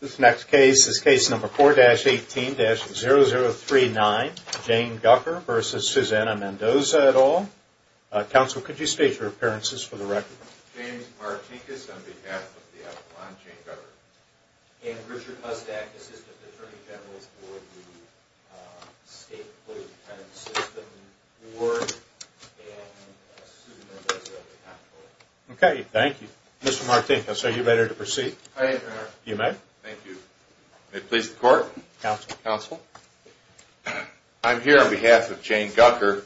This next case is case number 4-18-0039, Jane Gucker v. Susana Mendoza et al. Counsel, could you state your appearances for the record? James Martinkus on behalf of the Avalon Jane Gucker. And Richard Pustak, Assistant Attorney General for the State Police Detention System Board. And Susan Mendoza on behalf of the Avalon Jane Gucker. Okay, thank you. Mr. Martinkus, are you ready to proceed? I am, Your Honor. You may. Thank you. May it please the Court? Counsel. Counsel. I'm here on behalf of Jane Gucker.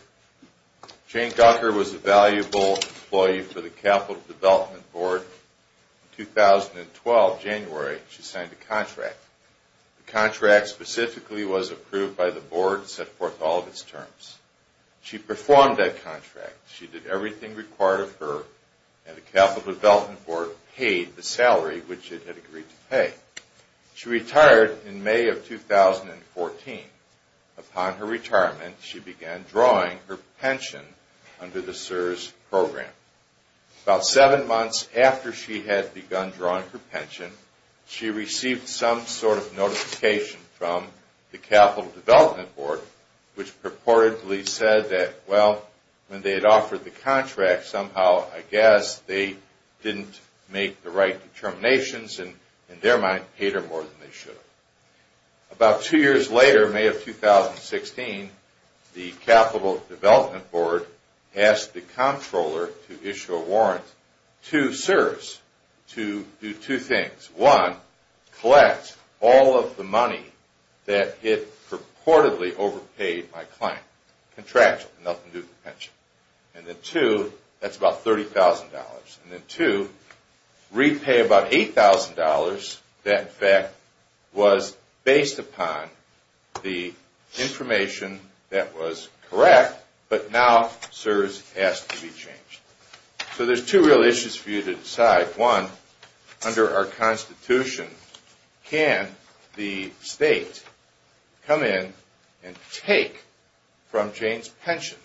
Jane Gucker was a valuable employee for the Capital Development Board. In 2012, January, she signed a contract. The contract specifically was approved by the board and set forth all of its terms. She performed that contract. She did everything required of her, and the Capital Development Board paid the salary which it had agreed to pay. She retired in May of 2014. Upon her retirement, she began drawing her pension under the CSRS program. About seven months after she had begun drawing her pension, she received some sort of notification from the Capital Development Board, which purportedly said that, well, when they had offered the contract somehow, I guess they didn't make the right determinations, and in their mind, paid her more than they should have. About two years later, May of 2016, the Capital Development Board asked the comptroller to issue a warrant to CSRS to do two things. One, collect all of the money that it purportedly overpaid my client. Contractual. Nothing to do with pension. And then two, that's about $30,000. And then two, repay about $8,000. That, in fact, was based upon the information that was correct, but now CSRS has to be changed. So there's two real issues for you to decide. One, under our Constitution, can the state come in and take from Jane's pension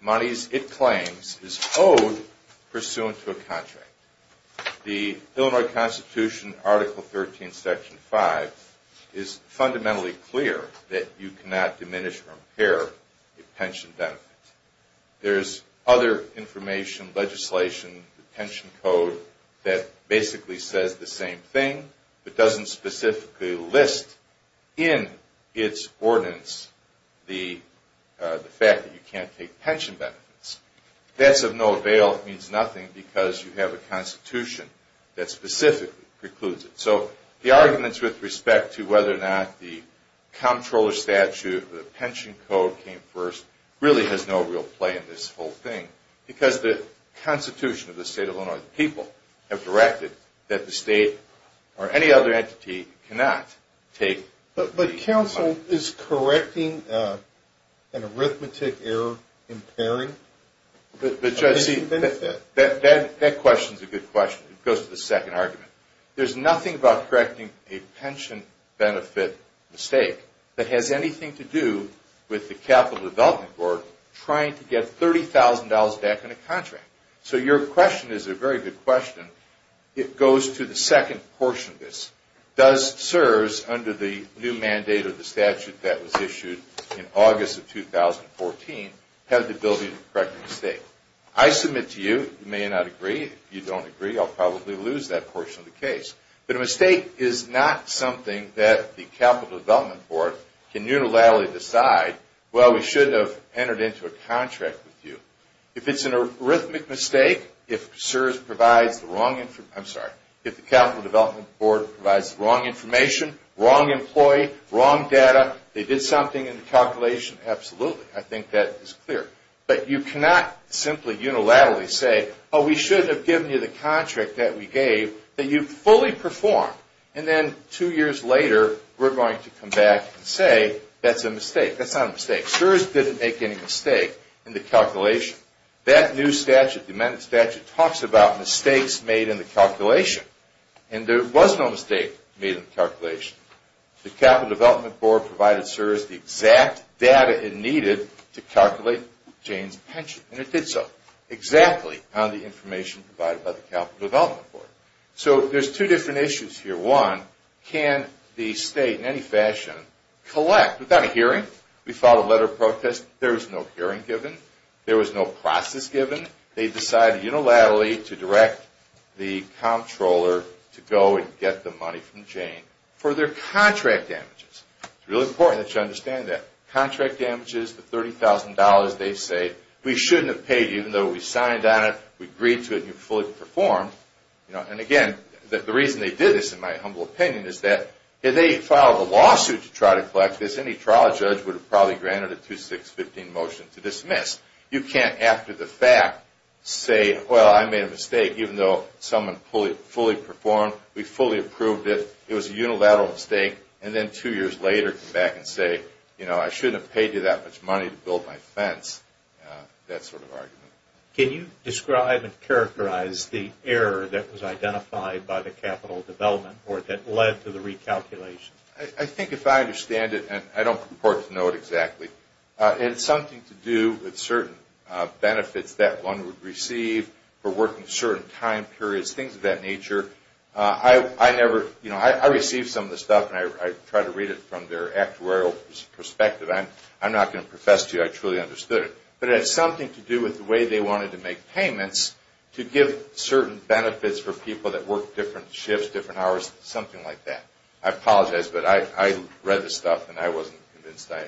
monies it claims is owed pursuant to a contract? The Illinois Constitution, Article 13, Section 5, is fundamentally clear that you cannot diminish or impair a pension benefit. There's other information, legislation, pension code, that basically says the same thing, but doesn't specifically list in its ordinance the fact that you can't take pension benefits. That's of no avail. It means nothing because you have a Constitution that specifically precludes it. So the arguments with respect to whether or not the comptroller statute or the pension code came first really has no real play in this whole thing because the Constitution of the state of Illinois, the people have directed that the state or any other entity cannot take. But counsel, is correcting an arithmetic error impairing a pension benefit? That question is a good question. It goes to the second argument. There's nothing about correcting a pension benefit mistake that has anything to do with the Capital Development Board trying to get $30,000 back in a contract. So your question is a very good question. It goes to the second portion of this. Does CSRS, under the new mandate of the statute that was issued in August of 2014, have the ability to correct a mistake? I submit to you, you may not agree. If you don't agree, I'll probably lose that portion of the case. But a mistake is not something that the Capital Development Board can unilaterally decide, well, we should have entered into a contract with you. If it's an arithmetic mistake, if CSRS provides the wrong information, I'm sorry, if the Capital Development Board provides the wrong information, wrong employee, wrong data, they did something in the calculation, absolutely. I think that is clear. But you cannot simply unilaterally say, oh, we should have given you the contract that we gave that you fully performed. And then two years later, we're going to come back and say that's a mistake. That's not a mistake. CSRS didn't make any mistake in the calculation. That new statute, the amended statute, talks about mistakes made in the calculation. And there was no mistake made in the calculation. The Capital Development Board provided CSRS the exact data it needed to calculate Jane's pension. And it did so exactly on the information provided by the Capital Development Board. So there's two different issues here. One, can the state in any fashion collect without a hearing? We filed a letter of protest. There was no hearing given. There was no process given. They decided unilaterally to direct the comptroller to go and get the money from Jane for their contract damages. It's really important that you understand that. Contract damages, the $30,000 they've saved, we shouldn't have paid even though we signed on it, we agreed to it, and you fully performed. And again, the reason they did this, in my humble opinion, is that if they filed a lawsuit to try to collect this, any trial judge would have probably granted a 2-6-15 motion to dismiss. You can't, after the fact, say, well, I made a mistake, even though someone fully performed, we fully approved it, it was a unilateral mistake, and then two years later come back and say, you know, I shouldn't have paid you that much money to build my fence, that sort of argument. Can you describe and characterize the error that was identified by the Capital Development Board that led to the recalculation? I think if I understand it, and I don't purport to know it exactly, it had something to do with certain benefits that one would receive for working certain time periods, things of that nature. I never, you know, I received some of this stuff, and I tried to read it from their actuarial perspective. I'm not going to profess to you I truly understood it. But it had something to do with the way they wanted to make payments to give certain benefits for people that worked different shifts, different hours, something like that. I apologize, but I read the stuff, and I wasn't convinced I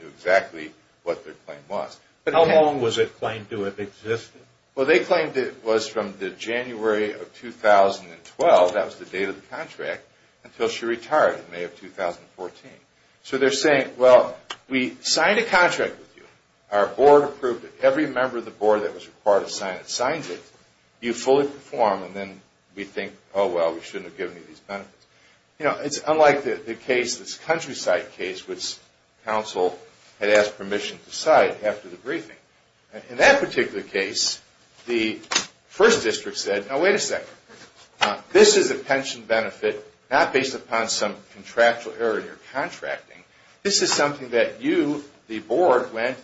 knew exactly what their claim was. How long was it claimed to have existed? Well, they claimed it was from the January of 2012, that was the date of the contract, until she retired in May of 2014. So they're saying, well, we signed a contract with you, our board approved it, every member of the board that was required to sign it signs it, you fully perform, and then we think, oh, well, we shouldn't have given you these benefits. You know, it's unlike the case, this countryside case, which counsel had asked permission to cite after the briefing. In that particular case, the first district said, now, wait a second. This is a pension benefit not based upon some contractual error in your contracting. This is something that you, the board, went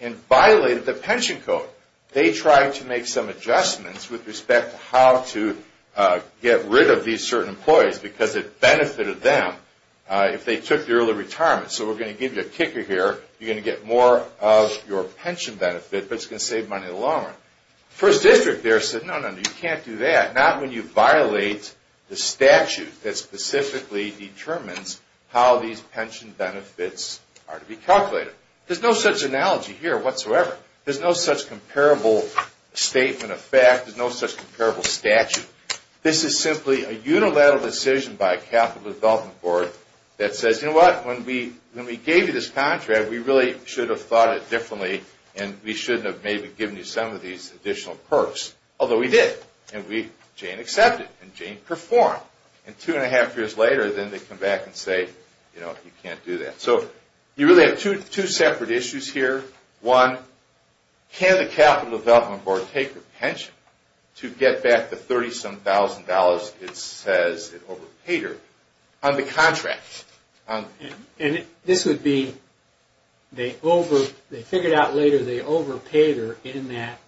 and violated the pension code. They tried to make some adjustments with respect to how to get rid of these certain employees because it benefited them if they took the early retirement. So we're going to give you a kicker here. You're going to get more of your pension benefit, but it's going to save money longer. The first district there said, no, no, no, you can't do that, not when you violate the statute that specifically determines how these pension benefits are to be calculated. There's no such analogy here whatsoever. There's no such comparable statement of fact. There's no such comparable statute. This is simply a unilateral decision by a capital development board that says, you know what? When we gave you this contract, we really should have thought it differently, and we shouldn't have maybe given you some of these additional perks, although we did. And Jane accepted, and Jane performed. And two and a half years later, then they come back and say, you know, you can't do that. So you really have two separate issues here. One, can the capital development board take the pension to get back the $37,000 it says it overpaid her on the contract? And this would be, they figured out later they overpaid her in that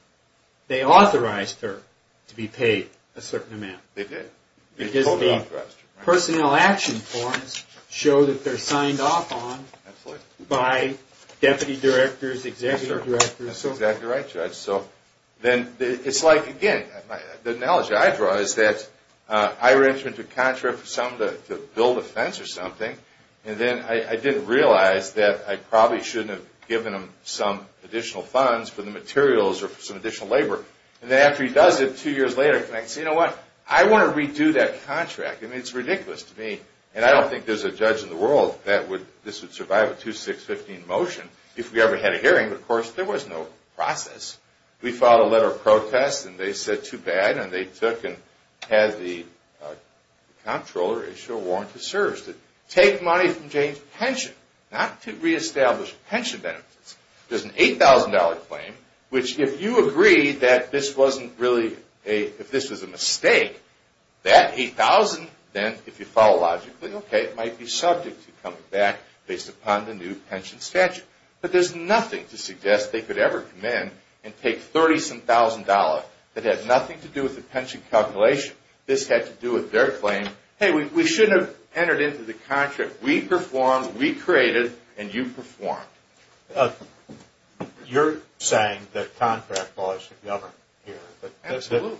they authorized her to be paid a certain amount. They did. Because the personnel action forms show that they're signed off on by deputy directors, executive directors. That's exactly right, Judge. So then it's like, again, the analogy I draw is that I ran into a contract for some to build a fence or something, and then I didn't realize that I probably shouldn't have given them some additional funds for the materials or some additional labor. And then after he does it, two years later, he says, you know what, I want to redo that contract. I mean, it's ridiculous to me. And I don't think there's a judge in the world that would, this would survive a 2-6-15 motion if we ever had a hearing. But of course, there was no process. We filed a letter of protest, and they said too bad, and they took and had the comptroller issue a warrant to serve. Take money from Jane's pension, not to reestablish pension benefits. There's an $8,000 claim, which if you agree that this wasn't really a, if this was a mistake, that $8,000, then if you follow logically, okay, it might be subject to coming back based upon the new pension statute. But there's nothing to suggest they could ever come in and take $30-some-thousand that had nothing to do with the pension calculation. This had to do with their claim, hey, we shouldn't have entered into the contract. We performed, we created, and you performed. You're saying that contract laws should govern here. Absolutely.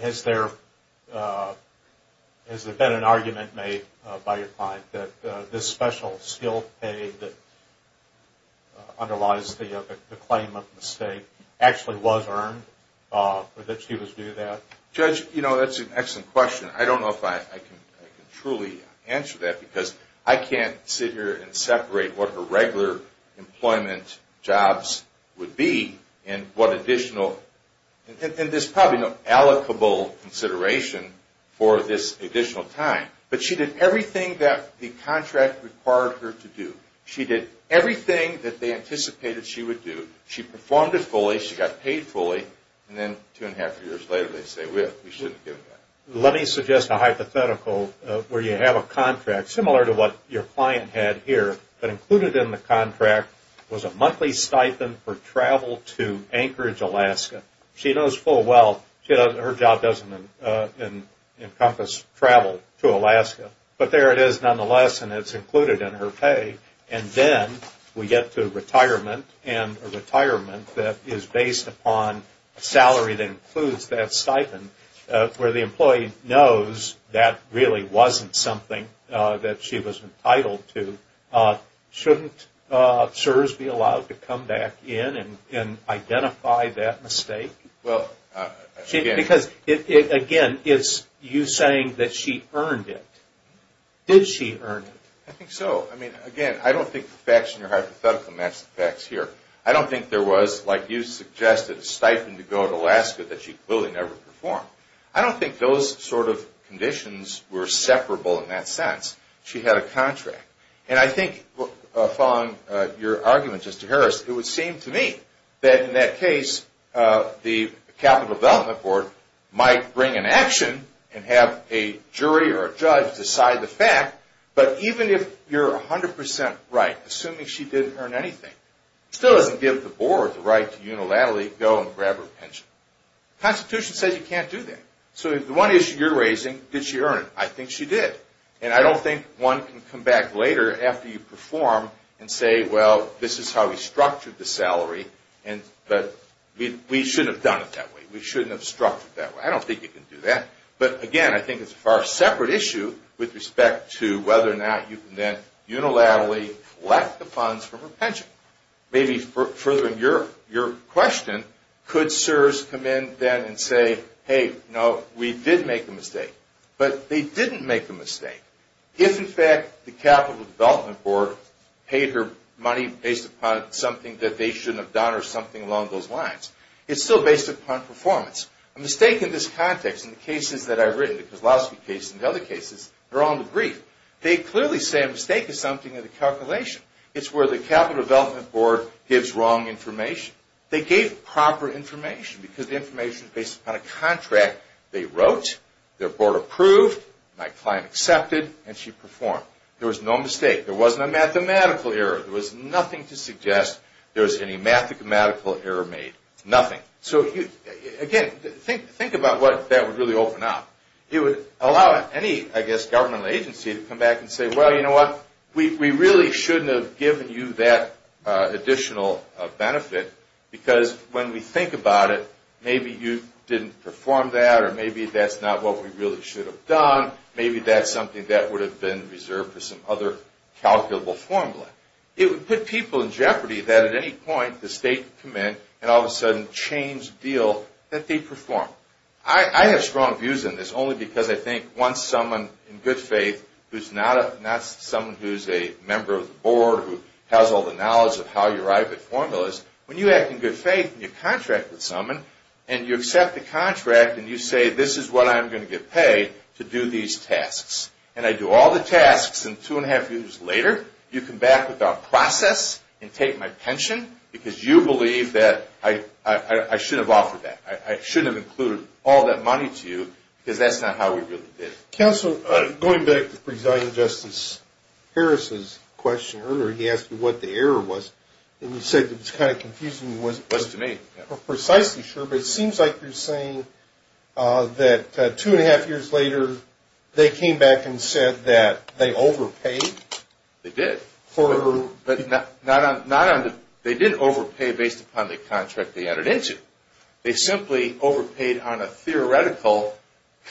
Has there been an argument made by your client that this special skilled pay that underlies the claim of mistake actually was earned, or that she was due that? Judge, you know, that's an excellent question. I don't know if I can truly answer that, because I can't sit here and separate what her regular employment jobs would be and what additional, and there's probably no allocable consideration for this additional time. But she did everything that the contract required her to do. She did everything that they anticipated she would do. She performed it fully. She got paid fully. And then two and a half years later, they say, well, we shouldn't have given that. Let me suggest a hypothetical where you have a contract similar to what your client had here, but included in the contract was a monthly stipend for travel to Anchorage, Alaska. She knows full well her job doesn't encompass travel to Alaska. But there it is nonetheless, and it's included in her pay. And then we get to retirement, and a retirement that is based upon a salary that includes that stipend, where the employee knows that really wasn't something that she was entitled to. Shouldn't CSRS be allowed to come back in and identify that mistake? Because, again, it's you saying that she earned it. Did she earn it? I think so. I mean, again, I don't think the facts in your hypothetical match the facts here. I don't think there was, like you suggested, a stipend to go to Alaska that she clearly never performed. I don't think those sort of conditions were separable in that sense. She had a contract. And I think, following your argument, Justice Harris, it would seem to me that in that case the Capital Development Board might bring an action and have a jury or a judge decide the fact. But even if you're 100 percent right, assuming she didn't earn anything, it still doesn't give the Board the right to unilaterally go and grab her pension. The Constitution says you can't do that. So if the one issue you're raising, did she earn it? I think she did. And I don't think one can come back later after you perform and say, well, this is how we structured the salary, but we shouldn't have done it that way. We shouldn't have structured it that way. I don't think you can do that. But, again, I think it's a far separate issue with respect to whether or not you can then unilaterally collect the funds from her pension. Maybe furthering your question, could CSRS come in then and say, hey, no, we did make a mistake. But they didn't make the mistake. If, in fact, the Capital Development Board paid her money based upon something that they shouldn't have done or something along those lines, it's still based upon performance. A mistake in this context in the cases that I've written, the Kozlowski case and other cases, they're all in the brief. They clearly say a mistake is something in the calculation. It's where the Capital Development Board gives wrong information. They gave proper information because the information is based upon a contract they wrote, their board approved, my client accepted, and she performed. There was no mistake. There wasn't a mathematical error. There was nothing to suggest there was any mathematical error made. Nothing. Again, think about what that would really open up. It would allow any, I guess, governmental agency to come back and say, well, you know what, we really shouldn't have given you that additional benefit because when we think about it, maybe you didn't perform that or maybe that's not what we really should have done. Maybe that's something that would have been reserved for some other calculable formula. It would put people in jeopardy that at any point the state could come in and all of a sudden change the deal that they performed. I have strong views on this only because I think once someone in good faith who's not someone who's a member of the board who has all the knowledge of how your IP formula is, when you act in good faith and you contract with someone and you accept the contract and you say this is what I'm going to get paid to do these tasks and I do all the tasks and two and a half years later, you come back with a process and take my pension because you believe that I shouldn't have offered that. I shouldn't have included all that money to you because that's not how we really did it. Counselor, going back to President Justice Harris's question earlier, he asked me what the error was and you said it was kind of confusing. It wasn't to me. I'm precisely sure, but it seems like you're saying that two and a half years later they came back and said that they overpaid. They did. They did overpay based upon the contract they entered into. They simply overpaid on a theoretical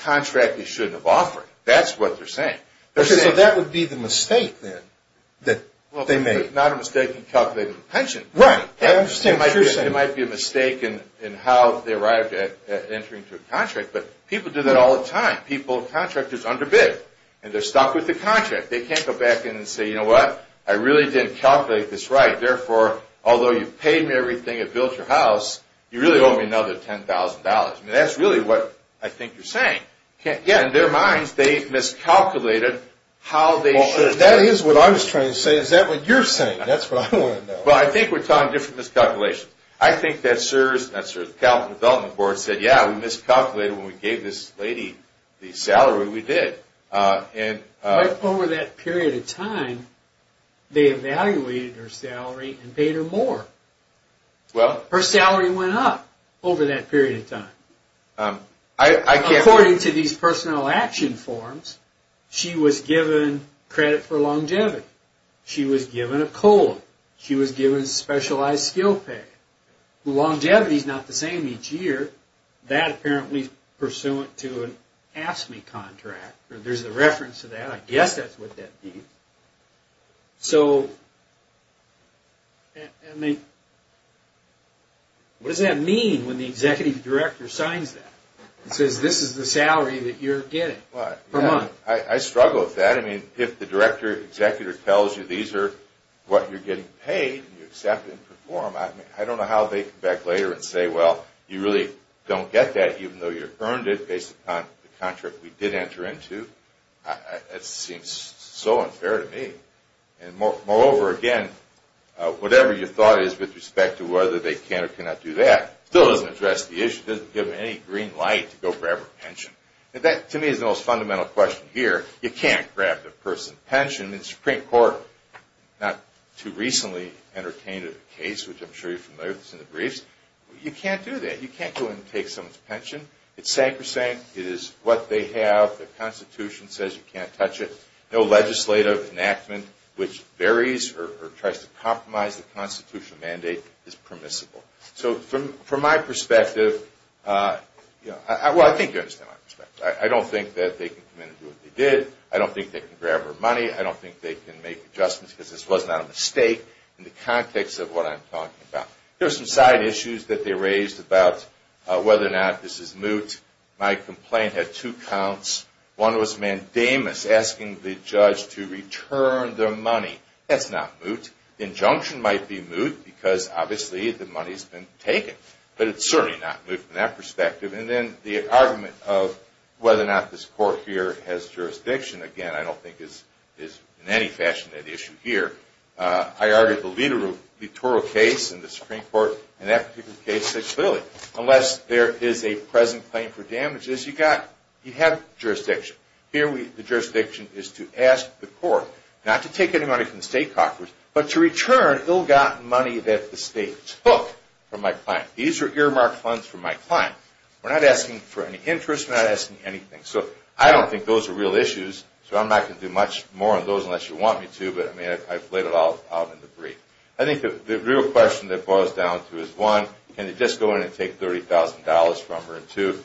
contract they shouldn't have offered. That's what they're saying. Okay, so that would be the mistake then that they made. Well, it's not a mistake in calculating the pension. Right. I understand what you're saying. It might be a mistake in how they arrived at entering into a contract, but people do that all the time. People's contract is underbid and they're stuck with the contract. They can't go back in and say, you know what? I really didn't calculate this right. Therefore, although you paid me everything and built your house, you really owe me another $10,000. I mean, that's really what I think you're saying. Yeah. In their minds, they've miscalculated how they should have. That is what I was trying to say. Is that what you're saying? That's what I want to know. Well, I think we're talking different miscalculations. I think that CSRS and the California Development Board said, yeah, we miscalculated when we gave this lady the salary. We did. Over that period of time, they evaluated her salary and paid her more. Her salary went up over that period of time. According to these personnel action forms, she was given credit for longevity. She was given a colon. She was given specialized skill pay. Longevity is not the same each year. That apparently is pursuant to an AFSCME contract. There's a reference to that. I guess that's what that means. What does that mean when the executive director signs that and says this is the salary that you're getting per month? I struggle with that. I mean, if the director or executor tells you these are what you're getting paid and you accept and perform, I don't know how they come back later and say, well, you really don't get that even though you earned it based upon the contract we did enter into. That seems so unfair to me. Moreover, again, whatever your thought is with respect to whether they can or cannot do that still doesn't address the issue. It doesn't give them any green light to go grab her pension. That, to me, is the most fundamental question here. You can't grab the person's pension. The Supreme Court not too recently entertained a case, which I'm sure you're familiar with. It's in the briefs. You can't do that. You can't go in and take someone's pension. It's sacrosanct. It is what they have. The Constitution says you can't touch it. No legislative enactment which varies or tries to compromise the Constitution mandate is permissible. So from my perspective, well, I think you understand my perspective. I don't think that they can come in and do what they did. I don't think they can grab her money. I don't think they can make adjustments because this was not a mistake in the context of what I'm talking about. There are some side issues that they raised about whether or not this is moot. My complaint had two counts. One was mandamus, asking the judge to return the money. That's not moot. Injunction might be moot because, obviously, the money has been taken. But it's certainly not moot from that perspective. And then the argument of whether or not this court here has jurisdiction, again, I don't think is in any fashion an issue here. I argued the literal case in the Supreme Court in that particular case said clearly unless there is a present claim for damages, you have jurisdiction. Here the jurisdiction is to ask the court not to take any money from the state coffers, but to return ill-gotten money that the state took from my client. These are earmarked funds from my client. We're not asking for any interest. We're not asking anything. So I don't think those are real issues. So I'm not going to do much more on those unless you want me to. But, I mean, I've laid it all out in the brief. I think the real question that it boils down to is, one, can you just go in and take $30,000 from her? And, two,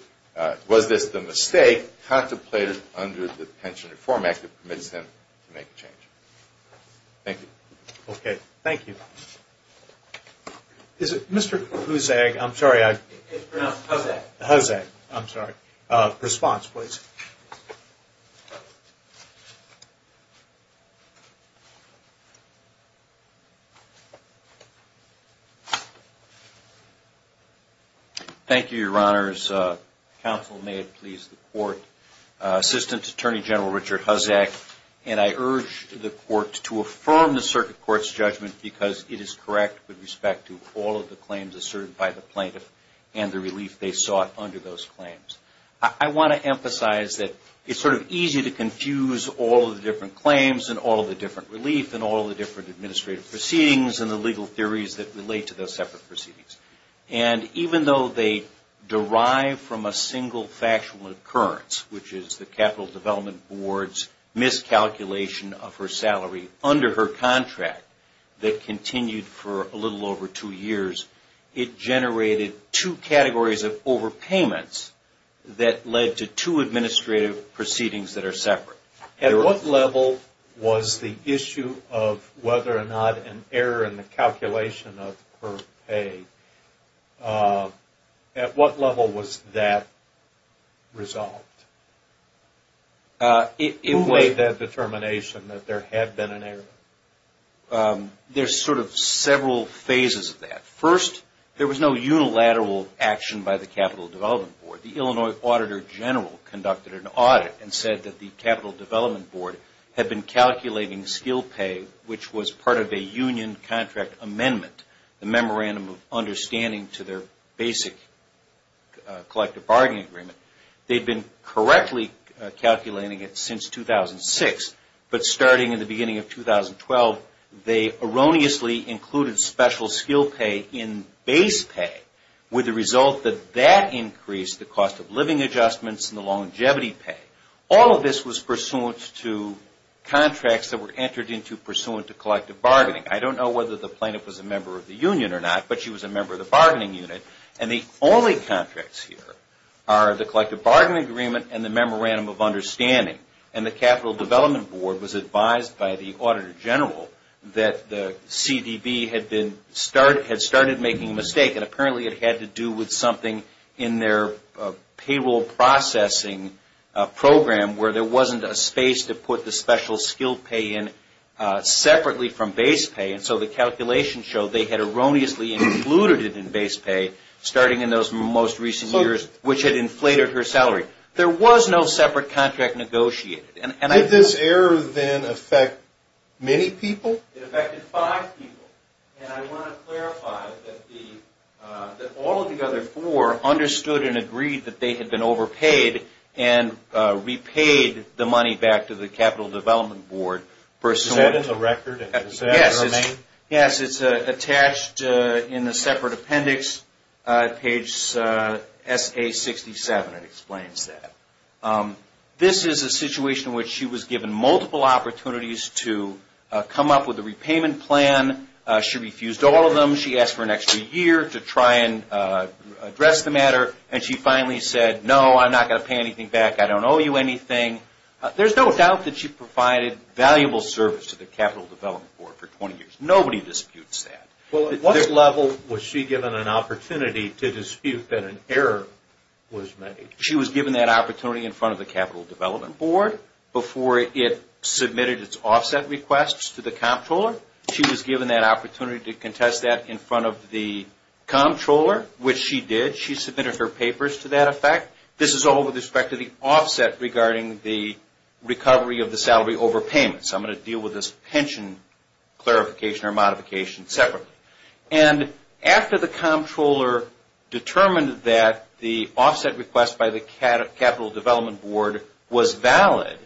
was this the mistake contemplated under the Pension Reform Act that permits him to make a change? Thank you. Okay. Thank you. Is it Mr. Hussag? I'm sorry. It's pronounced Hussag. Hussag. I'm sorry. Response, please. Thank you, Your Honors. Counsel, may it please the court. Assistant Attorney General Richard Hussag, and I urge the court to affirm the circuit court's judgment because it is correct with respect to all of the claims asserted by the plaintiff and the relief they sought under those claims. I want to emphasize that it's sort of easy to confuse all of the different claims and all of the different relief and all of the different administrative proceedings and the legal theories that relate to those separate proceedings. And even though they derive from a single factual occurrence, which is the Capital Development Board's miscalculation of her salary under her two categories of overpayments that led to two administrative proceedings that are separate. At what level was the issue of whether or not an error in the calculation of her pay, at what level was that resolved? Who made that determination that there had been an error? There's sort of several phases of that. First, there was no unilateral action by the Capital Development Board. The Illinois Auditor General conducted an audit and said that the Capital Development Board had been calculating skill pay, which was part of a union contract amendment, a memorandum of understanding to their basic collective bargaining agreement. They'd been correctly calculating it since 2006, but starting in the beginning of 2012, they erroneously included special skill pay in base pay, with the result that that increased the cost of living adjustments and the longevity pay. All of this was pursuant to contracts that were entered into pursuant to collective bargaining. I don't know whether the plaintiff was a member of the union or not, but she was a member of the bargaining unit. And the only contracts here are the collective bargaining agreement and the memorandum of understanding. And the Capital Development Board was advised by the Auditor General that the CDB had started making a mistake, and apparently it had to do with something in their payroll processing program where there wasn't a space to put the special skill pay in separately from base pay. And so the calculation showed they had erroneously included it in base pay, starting in those most recent years, which had inflated her salary. There was no separate contract negotiated. Did this error then affect many people? It affected five people. And I want to clarify that all of the other four understood and agreed that they had been overpaid and repaid the money back to the Capital Development Board. Is that in the record? Yes, it's attached in the separate appendix, page SA-67. It explains that. This is a situation in which she was given multiple opportunities to come up with a repayment plan. She refused all of them. She asked for an extra year to try and address the matter. And she finally said, no, I'm not going to pay anything back. I don't owe you anything. There's no doubt that she provided valuable service to the Capital Development Board for 20 years. Nobody disputes that. At what level was she given an opportunity to dispute that an error was made? She was given that opportunity in front of the Capital Development Board before it submitted its offset requests to the comptroller. She was given that opportunity to contest that in front of the comptroller, which she did. She submitted her papers to that effect. This is all with respect to the offset regarding the recovery of the salary over payments. I'm going to deal with this pension clarification or modification separately. And after the comptroller determined that the offset request by the Capital Development Board was valid,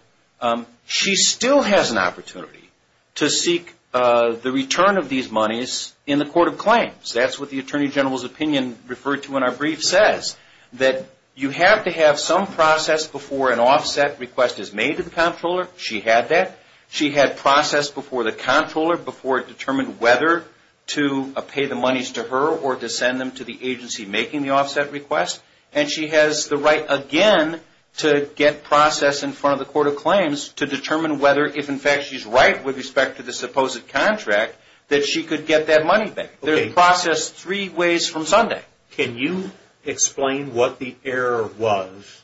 she still has an opportunity to seek the return of these monies in the court of claims. That's what the Attorney General's opinion referred to in our brief says, that you have to have some process before an offset request is made to the comptroller. She had that. She had process before the comptroller before it determined whether to pay the monies to her or to send them to the agency making the offset request. And she has the right again to get process in front of the court of claims to determine whether, if in fact she's right with respect to the supposed contract, that she could get that money back. There's a process three ways from Sunday. Can you explain what the error was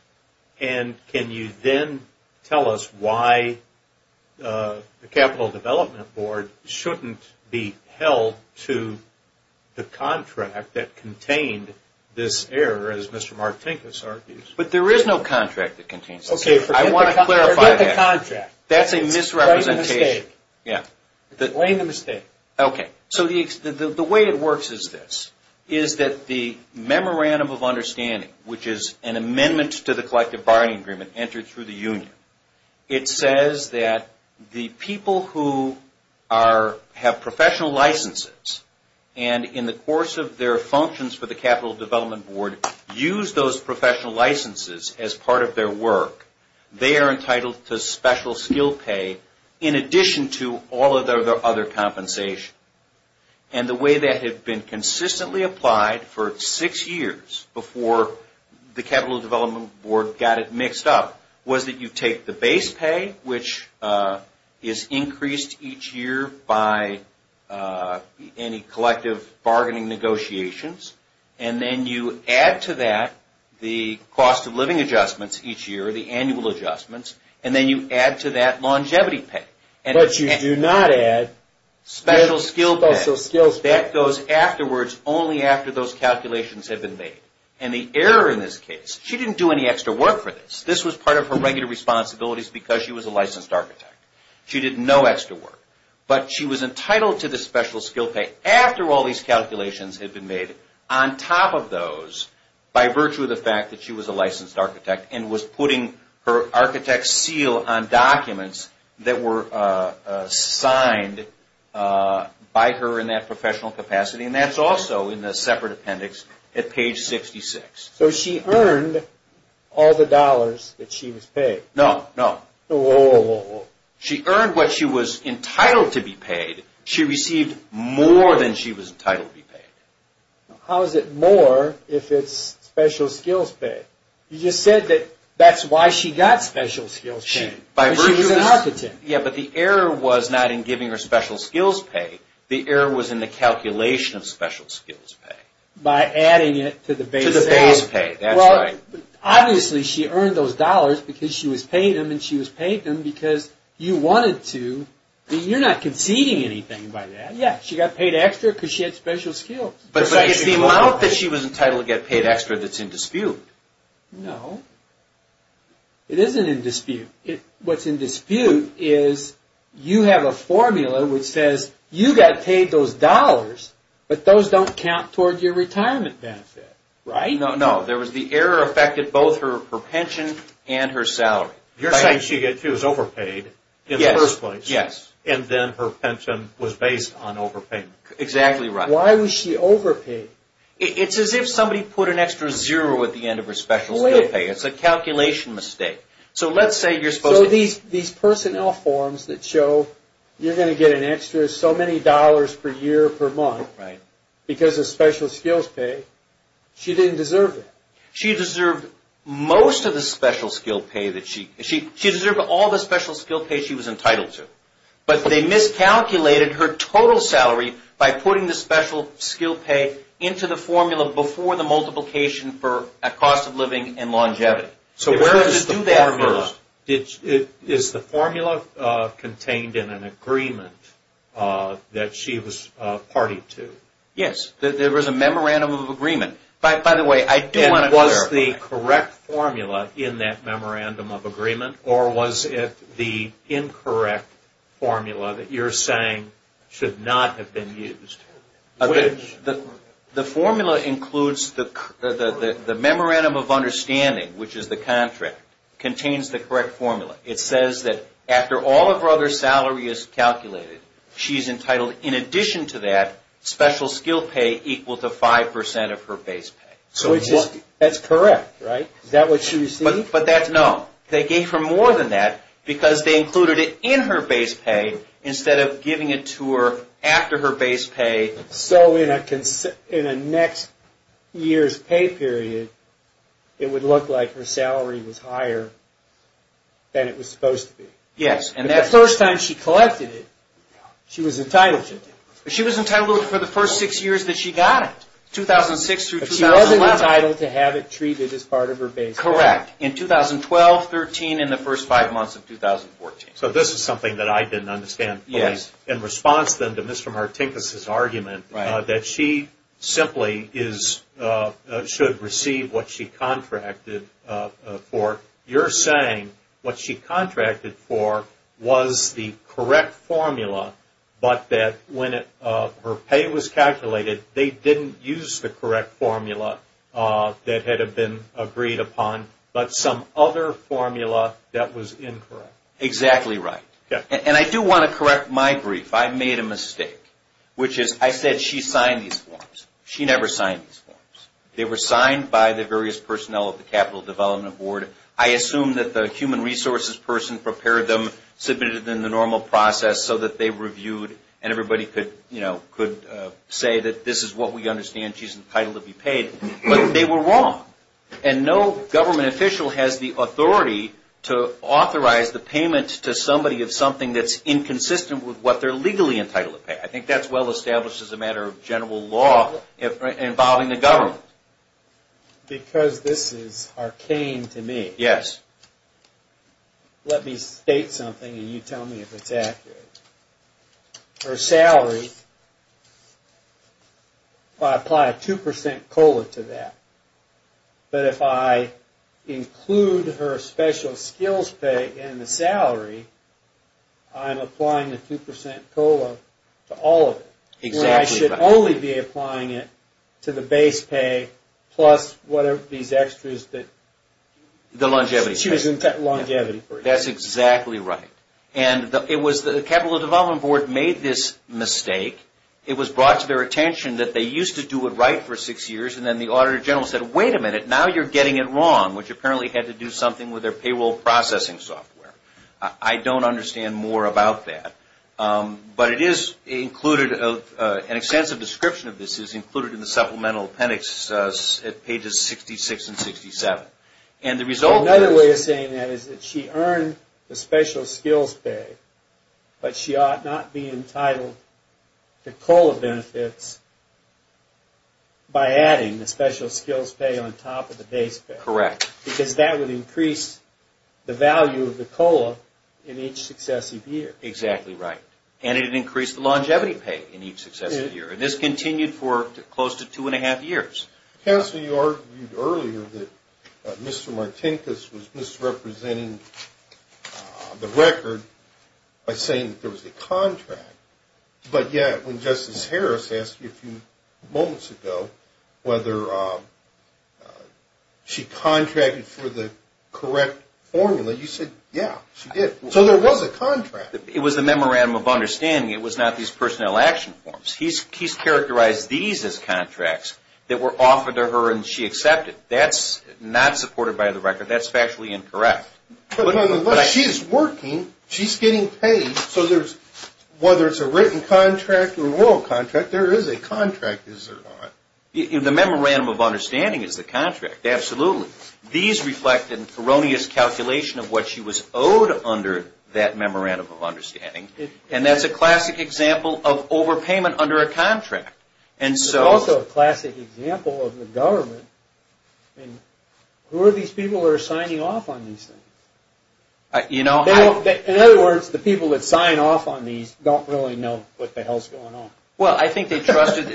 and can you then tell us why the Capital Development Board shouldn't be held to the contract that contained this error as Mr. Martinkus argues? But there is no contract that contains this error. I want to clarify that. Forget the contract. That's a misrepresentation. Blame the mistake. Okay. So the way it works is this, is that the Memorandum of Understanding, which is an amendment to the Collective Barring Agreement entered through the union, it says that the people who have professional licenses and in the course of their functions for the Capital Development Board use those professional licenses as part of their work, they are entitled to special skill pay in addition to all of their other compensation. And the way that had been consistently applied for six years before the Capital Development Board got it mixed up was that you take the base pay, which is increased each year by any collective bargaining negotiations, and then you add to that the cost of living adjustments each year, the annual adjustments, and then you add to that longevity pay. But you do not add special skill pay. That goes afterwards only after those calculations have been made. And the error in this case, she didn't do any extra work for this. This was part of her regular responsibilities because she was a licensed architect. She did no extra work. But she was entitled to the special skill pay after all these calculations had been made on top of those by virtue of the fact that she was a licensed architect and was putting her architect seal on documents that were signed by her in that professional capacity. And that's also in the separate appendix at page 66. So she earned all the dollars that she was paid. No, no. Whoa, whoa, whoa. She earned what she was entitled to be paid. She received more than she was entitled to be paid. How is it more if it's special skills pay? You just said that that's why she got special skills pay. She was an architect. Yeah, but the error was not in giving her special skills pay. The error was in the calculation of special skills pay. By adding it to the base pay. To the base pay. That's right. Obviously, she earned those dollars because she was paid them, and she was paid them because you wanted to. You're not conceding anything by that. Yeah, she got paid extra because she had special skills. But it's the amount that she was entitled to get paid extra that's in dispute. No. It isn't in dispute. What's in dispute is you have a formula which says you got paid those dollars, but those don't count toward your retirement benefit. No, no. The error affected both her pension and her salary. You're saying she was overpaid in the first place. Yes. And then her pension was based on overpayment. Exactly right. Why was she overpaid? It's as if somebody put an extra zero at the end of her special skills pay. It's a calculation mistake. So let's say you're supposed to... So these personnel forms that show you're going to get an extra so many dollars per year, per month, because of special skills pay, she didn't deserve that. She deserved most of the special skills pay that she... She deserved all the special skills pay she was entitled to. But they miscalculated her total salary by putting the special skills pay into the formula before the multiplication for cost of living and longevity. So where does it do that first? Is the formula contained in an agreement that she was party to? Yes. There was a memorandum of agreement. By the way, I do want to clarify. And was the correct formula in that memorandum of agreement, or was it the incorrect formula that you're saying should not have been used? The formula includes the memorandum of understanding, which is the contract, contains the correct formula. It says that after all of her other salary is calculated, she's entitled, in addition to that, special skills pay equal to 5% of her base pay. So that's correct, right? Is that what she received? No. They gave her more than that because they included it in her base pay instead of giving it to her after her base pay. So in a next year's pay period, it would look like her salary was higher than it was supposed to be. Yes. The first time she collected it, she was entitled to it. She was entitled to it for the first six years that she got it, 2006 through 2011. But she wasn't entitled to have it treated as part of her base pay. Correct. In 2012, 13, and the first five months of 2014. So this is something that I didn't understand fully. Yes. In response then to Mr. Martinkus' argument that she simply should receive what she contracted for, you're saying what she contracted for was the correct formula, but that when her pay was calculated, they didn't use the correct formula that had been agreed upon, but some other formula that was incorrect. Exactly right. And I do want to correct my grief. I made a mistake, which is I said she signed these forms. She never signed these forms. They were signed by the various personnel of the Capital Development Board. I assume that the human resources person prepared them, submitted them in the normal process so that they were reviewed, and everybody could say that this is what we understand she's entitled to be paid. But they were wrong. And no government official has the authority to authorize the payment to somebody of something that's inconsistent with what they're legally entitled to pay. I think that's well established as a matter of general law involving the government. Because this is arcane to me. Yes. Let me state something, and you tell me if it's accurate. Her salary, I apply a 2% COLA to that. But if I include her special skills pay and the salary, I'm applying the 2% COLA to all of it. Exactly right. I should only be applying it to the base pay plus whatever these extras that she was entitled to. The longevity. Longevity. That's exactly right. And it was the Capital Development Board made this mistake. It was brought to their attention that they used to do it right for six years, and then the Auditor General said, wait a minute, now you're getting it wrong, which apparently had to do something with their payroll processing software. I don't understand more about that. But it is included, an extensive description of this is included in the supplemental appendix at pages 66 and 67. Another way of saying that is that she earned the special skills pay, but she ought not be entitled to COLA benefits by adding the special skills pay on top of the base pay. Correct. Because that would increase the value of the COLA in each successive year. Exactly right. And it would increase the longevity pay in each successive year. And this continued for close to two and a half years. Counsel, you argued earlier that Mr. Martinkus was misrepresenting the record by saying that there was a contract. But yet, when Justice Harris asked you a few moments ago whether she contracted for the correct formula, you said, yeah, she did. So there was a contract. It was a memorandum of understanding. It was not these personnel action forms. He's characterized these as contracts that were offered to her and she accepted. That's not supported by the record. That's factually incorrect. But she's working. She's getting paid. So whether it's a written contract or a royal contract, there is a contract. The memorandum of understanding is the contract. Absolutely. These reflect an erroneous calculation of what she was owed under that memorandum of understanding. And that's a classic example of overpayment under a contract. It's also a classic example of the government. Who are these people that are signing off on these things? In other words, the people that sign off on these don't really know what the hell's going on. Well, I think they trusted.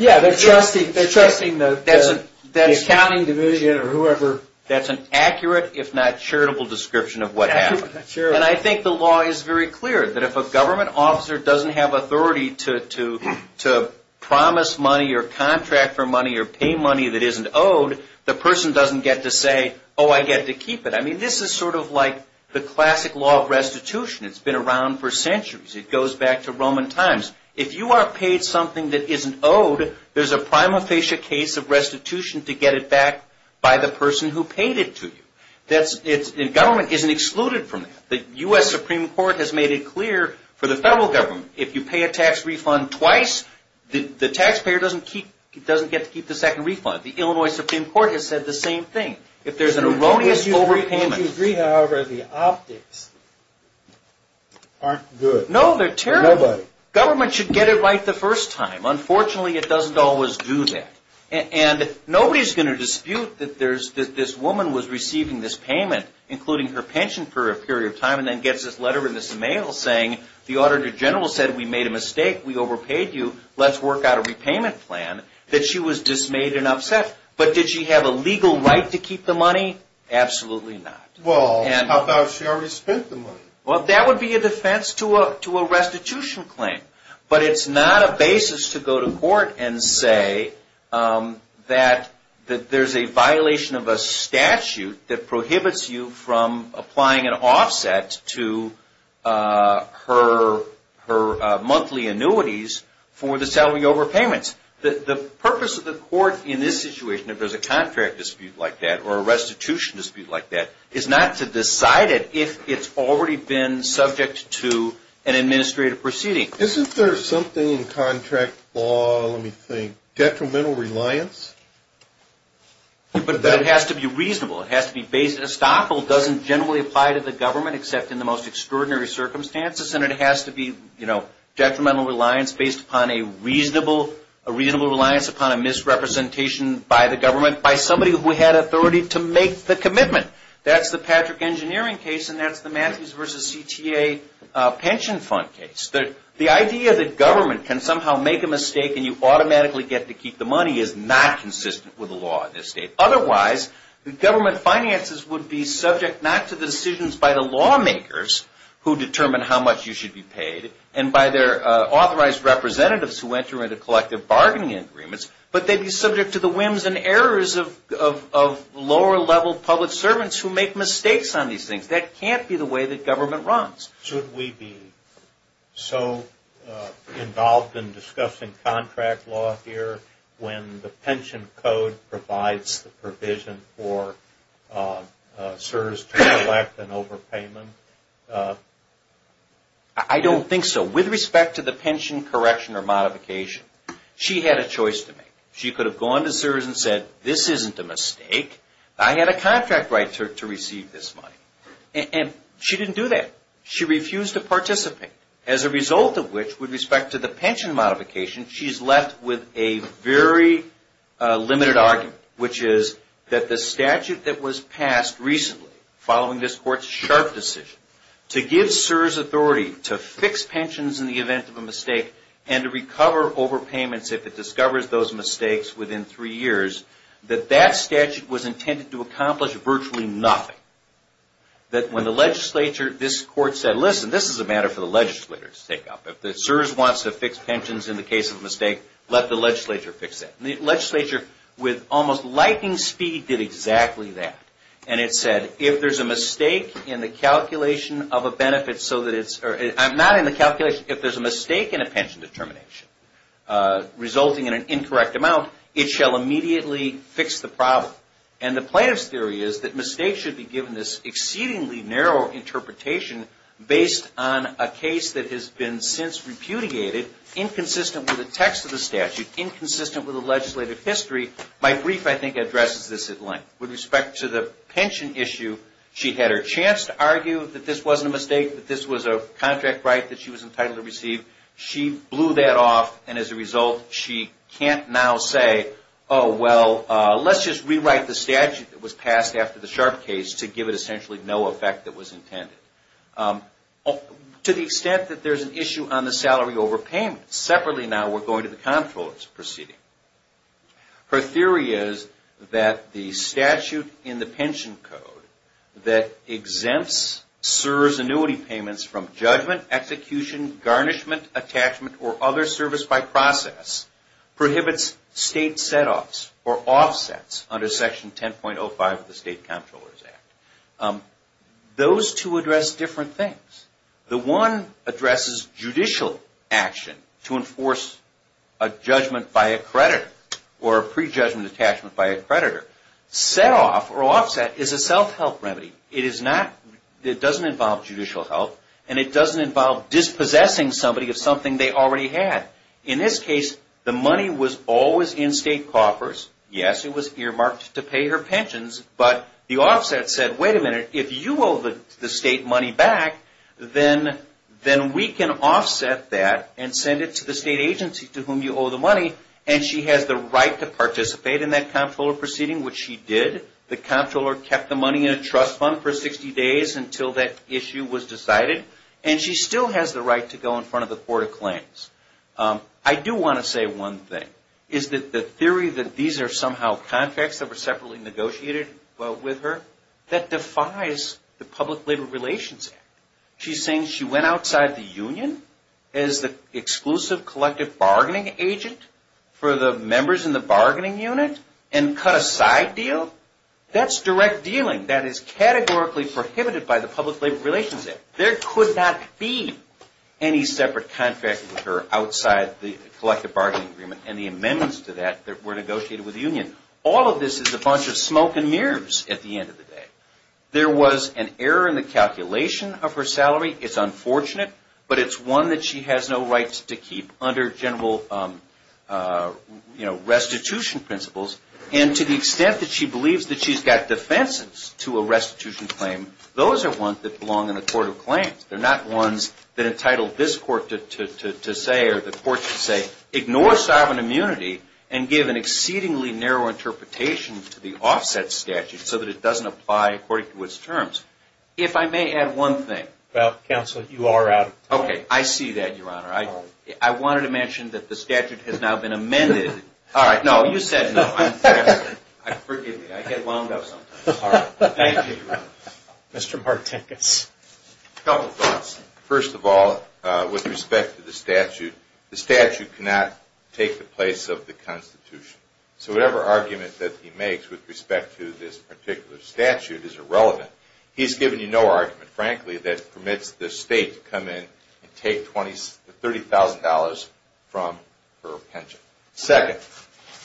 Yeah, they're trusting the accounting division or whoever. That's an accurate, if not charitable, description of what happened. And I think the law is very clear that if a government officer doesn't have authority to promise money or contract for money or pay money that isn't owed, the person doesn't get to say, oh, I get to keep it. I mean, this is sort of like the classic law of restitution. It's been around for centuries. It goes back to Roman times. If you are paid something that isn't owed, there's a prima facie case of restitution to get it back by the person who paid it to you. Government isn't excluded from that. The U.S. Supreme Court has made it clear for the federal government, if you pay a tax refund twice, the taxpayer doesn't get to keep the second refund. The Illinois Supreme Court has said the same thing. If there's an erroneous overpayment... Would you agree, however, the optics aren't good? No, they're terrible. Nobody. Government should get it right the first time. Unfortunately, it doesn't always do that. And nobody's going to dispute that this woman was receiving this payment, including her pension for a period of time, and then gets this letter in this mail saying the auditor general said we made a mistake, we overpaid you, let's work out a repayment plan, that she was dismayed and upset. But did she have a legal right to keep the money? Absolutely not. Well, how about if she already spent the money? Well, that would be a defense to a restitution claim. But it's not a basis to go to court and say that there's a violation of a statute that prohibits you from applying an offset to her monthly annuities for the salary overpayments. The purpose of the court in this situation, if there's a contract dispute like that or a restitution dispute like that, is not to decide it if it's already been subject to an administrative proceeding. Isn't there something in contract law, let me think, detrimental reliance? But it has to be reasonable. A stockhold doesn't generally apply to the government except in the most extraordinary circumstances. And it has to be detrimental reliance based upon a reasonable reliance upon a misrepresentation by the government by somebody who had authority to make the commitment. That's the Patrick Engineering case and that's the Matthews v. CTA pension fund case. The idea that government can somehow make a mistake and you automatically get to keep the money is not consistent with the law in this state. Otherwise, government finances would be subject not to the decisions by the lawmakers who determine how much you should be paid and by their authorized representatives who enter into collective bargaining agreements, but they'd be subject to the whims and errors of lower-level public servants who make mistakes on these things. That can't be the way that government runs. Should we be so involved in discussing contract law here when the pension code provides the provision for CSRS to collect an overpayment? I don't think so. With respect to the pension correction or modification, she had a choice to make. She could have gone to CSRS and said, this isn't a mistake. I had a contract right to receive this money. And she didn't do that. She refused to participate, as a result of which, with respect to the pension modification, she's left with a very limited argument, which is that the statute that was passed recently, following this court's sharp decision to give CSRS authority to fix pensions in the event of a mistake and to recover overpayments if it discovers those mistakes within three years, that that statute was intended to accomplish virtually nothing. That when the legislature, this court said, listen, this is a matter for the legislators to take up. If CSRS wants to fix pensions in the case of a mistake, let the legislature fix that. And the legislature, with almost lightning speed, did exactly that. And it said, if there's a mistake in the calculation of a benefit so that it's – not in the calculation, if there's a mistake in a pension determination resulting in an incorrect amount, it shall immediately fix the problem. And the plaintiff's theory is that mistakes should be given this exceedingly narrow interpretation based on a case that has been since repudiated, inconsistent with the text of the statute, inconsistent with the legislative history. My brief, I think, addresses this at length. With respect to the pension issue, she had her chance to argue that this wasn't a mistake, that this was a contract right that she was entitled to receive. She blew that off. And as a result, she can't now say, oh, well, let's just rewrite the statute that was passed after the sharp case to give it essentially no effect that was intended. To the extent that there's an issue on the salary overpayment, separately now we're going to the comptroller's proceeding. Her theory is that the statute in the pension code that exempts CSRS annuity payments from judgment, execution, garnishment, attachment, or other service by process, prohibits state setoffs or offsets under Section 10.05 of the State Comptroller's Act. Those two address different things. The one addresses judicial action to enforce a judgment by a creditor or a prejudgment attachment by a creditor. Setoff or offset is a self-help remedy. It doesn't involve judicial help, and it doesn't involve dispossessing somebody of something they already had. In this case, the money was always in state coffers. Yes, it was earmarked to pay her pensions, but the offset said, wait a minute, if you owe the state money back, then we can offset that and send it to the state agency to whom you owe the money, and she has the right to participate in that comptroller proceeding, which she did. The comptroller kept the money in a trust fund for 60 days until that issue was decided, and she still has the right to go in front of the court of claims. I do want to say one thing. The theory that these are somehow contracts that were separately negotiated with her, that defies the Public Labor Relations Act. She's saying she went outside the union as the exclusive collective bargaining agent for the members in the bargaining unit and cut a side deal? That's direct dealing. That is categorically prohibited by the Public Labor Relations Act. There could not be any separate contract with her outside the collective bargaining agreement and the amendments to that that were negotiated with the union. All of this is a bunch of smoke and mirrors at the end of the day. There was an error in the calculation of her salary. It's unfortunate, but it's one that she has no right to keep under general restitution principles, and to the extent that she believes that she's got defenses to a restitution claim, those are ones that belong in a court of claims. They're not ones that entitle this court to say or the court to say, ignore sovereign immunity and give an exceedingly narrow interpretation to the offset statute so that it doesn't apply according to its terms. If I may add one thing. Well, counsel, you are out of time. Okay, I see that, Your Honor. I wanted to mention that the statute has now been amended. All right, no, you said no. Forgive me. I get wound up sometimes. Thank you, Your Honor. Mr. Martinkus. A couple thoughts. First of all, with respect to the statute, the statute cannot take the place of the Constitution. So whatever argument that he makes with respect to this particular statute is irrelevant. He's given you no argument, frankly, that permits the state to come in and take $30,000 from her pension. Second,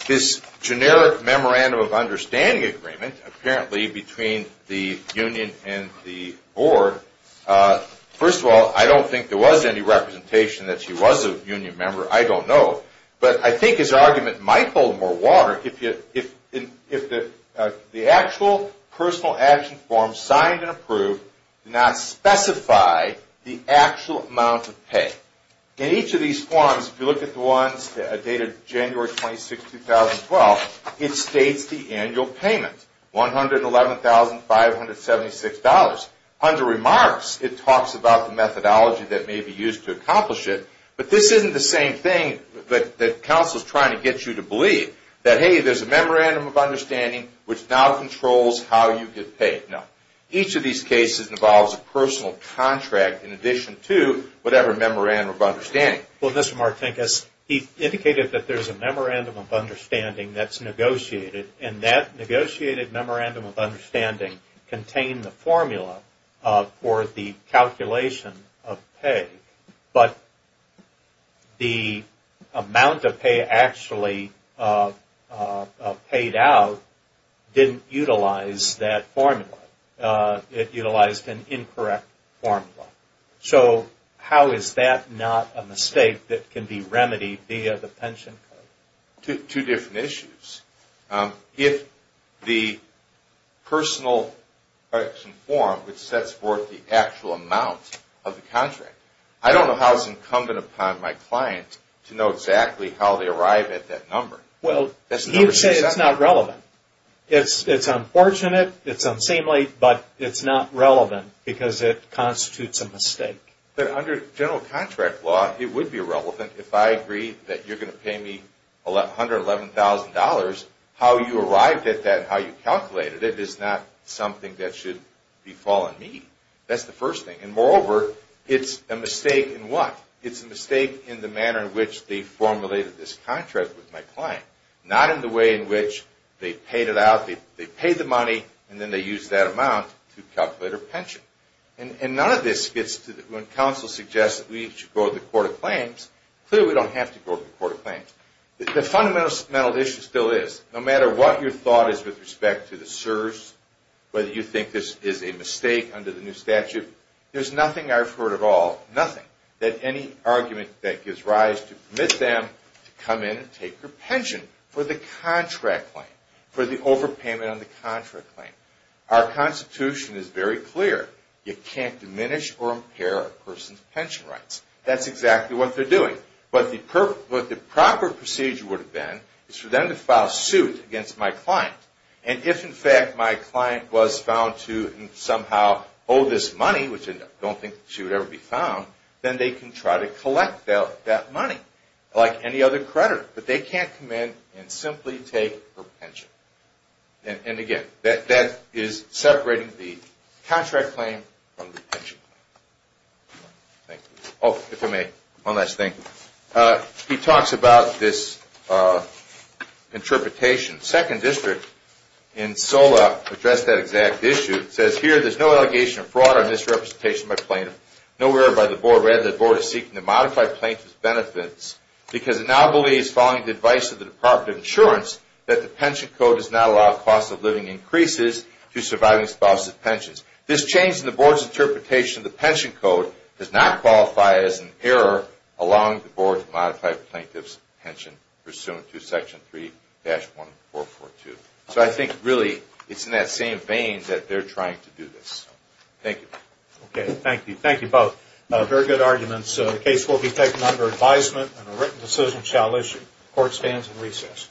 this generic memorandum of understanding agreement, apparently, between the union and the board, first of all, I don't think there was any representation that she was a union member. I don't know. But I think his argument might hold more water if the actual personal action form signed and approved did not specify the actual amount of pay. In each of these forms, if you look at the ones dated January 26, 2012, it states the annual payment, $111,576. Under remarks, it talks about the methodology that may be used to accomplish it. But this isn't the same thing that counsel is trying to get you to believe, that, hey, there's a memorandum of understanding which now controls how you get paid. No. Each of these cases involves a personal contract in addition to whatever memorandum of understanding. Well, Mr. Martinkus, he indicated that there's a memorandum of understanding that's negotiated, and that negotiated memorandum of understanding contained the formula for the calculation of pay. But the amount of pay actually paid out didn't utilize that formula. It utilized an incorrect formula. So how is that not a mistake that can be remedied via the pension code? Two different issues. If the personal action form, which sets forth the actual amount of the contract, I don't know how it's incumbent upon my client to know exactly how they arrive at that number. Well, he would say it's not relevant. It's unfortunate, it's unseemly, but it's not relevant because it constitutes a mistake. But under general contract law, it would be relevant if I agreed that you're going to pay me $111,000. How you arrived at that, how you calculated it, is not something that should befall on me. That's the first thing. And moreover, it's a mistake in what? It's a mistake in the manner in which they formulated this contract with my client, not in the way in which they paid it out, they paid the money, and then they used that amount to calculate a pension. And none of this gets to when counsel suggests that we should go to the Court of Claims. Clearly, we don't have to go to the Court of Claims. The fundamental issue still is, no matter what your thought is with respect to the CSRS, whether you think this is a mistake under the new statute, there's nothing I've heard at all, nothing, that any argument that gives rise to permit them to come in and take their pension for the contract claim, for the overpayment on the contract claim. Our Constitution is very clear. You can't diminish or impair a person's pension rights. That's exactly what they're doing. But the proper procedure would have been for them to file suit against my client. And if, in fact, my client was found to somehow owe this money, which I don't think she would ever be found, then they can try to collect that money like any other creditor. But they can't come in and simply take her pension. And, again, that is separating the contract claim from the pension claim. Thank you. Oh, if I may, one last thing. He talks about this interpretation. Second District in SOLA addressed that exact issue. It says, here, there's no allegation of fraud or misrepresentation by plaintiff, nowhere by the board, rather the board is seeking to modify plaintiff's benefits because it now believes, following the advice of the Department of Insurance, that the pension code does not allow cost-of-living increases to surviving spouses' pensions. This change in the board's interpretation of the pension code does not qualify as an error allowing the board to modify plaintiff's pension pursuant to Section 3-1442. So I think, really, it's in that same vein that they're trying to do this. Thank you. Okay. Thank you. Thank you both. Very good arguments. The case will be taken under advisement, and a written decision shall issue. Court stands at recess.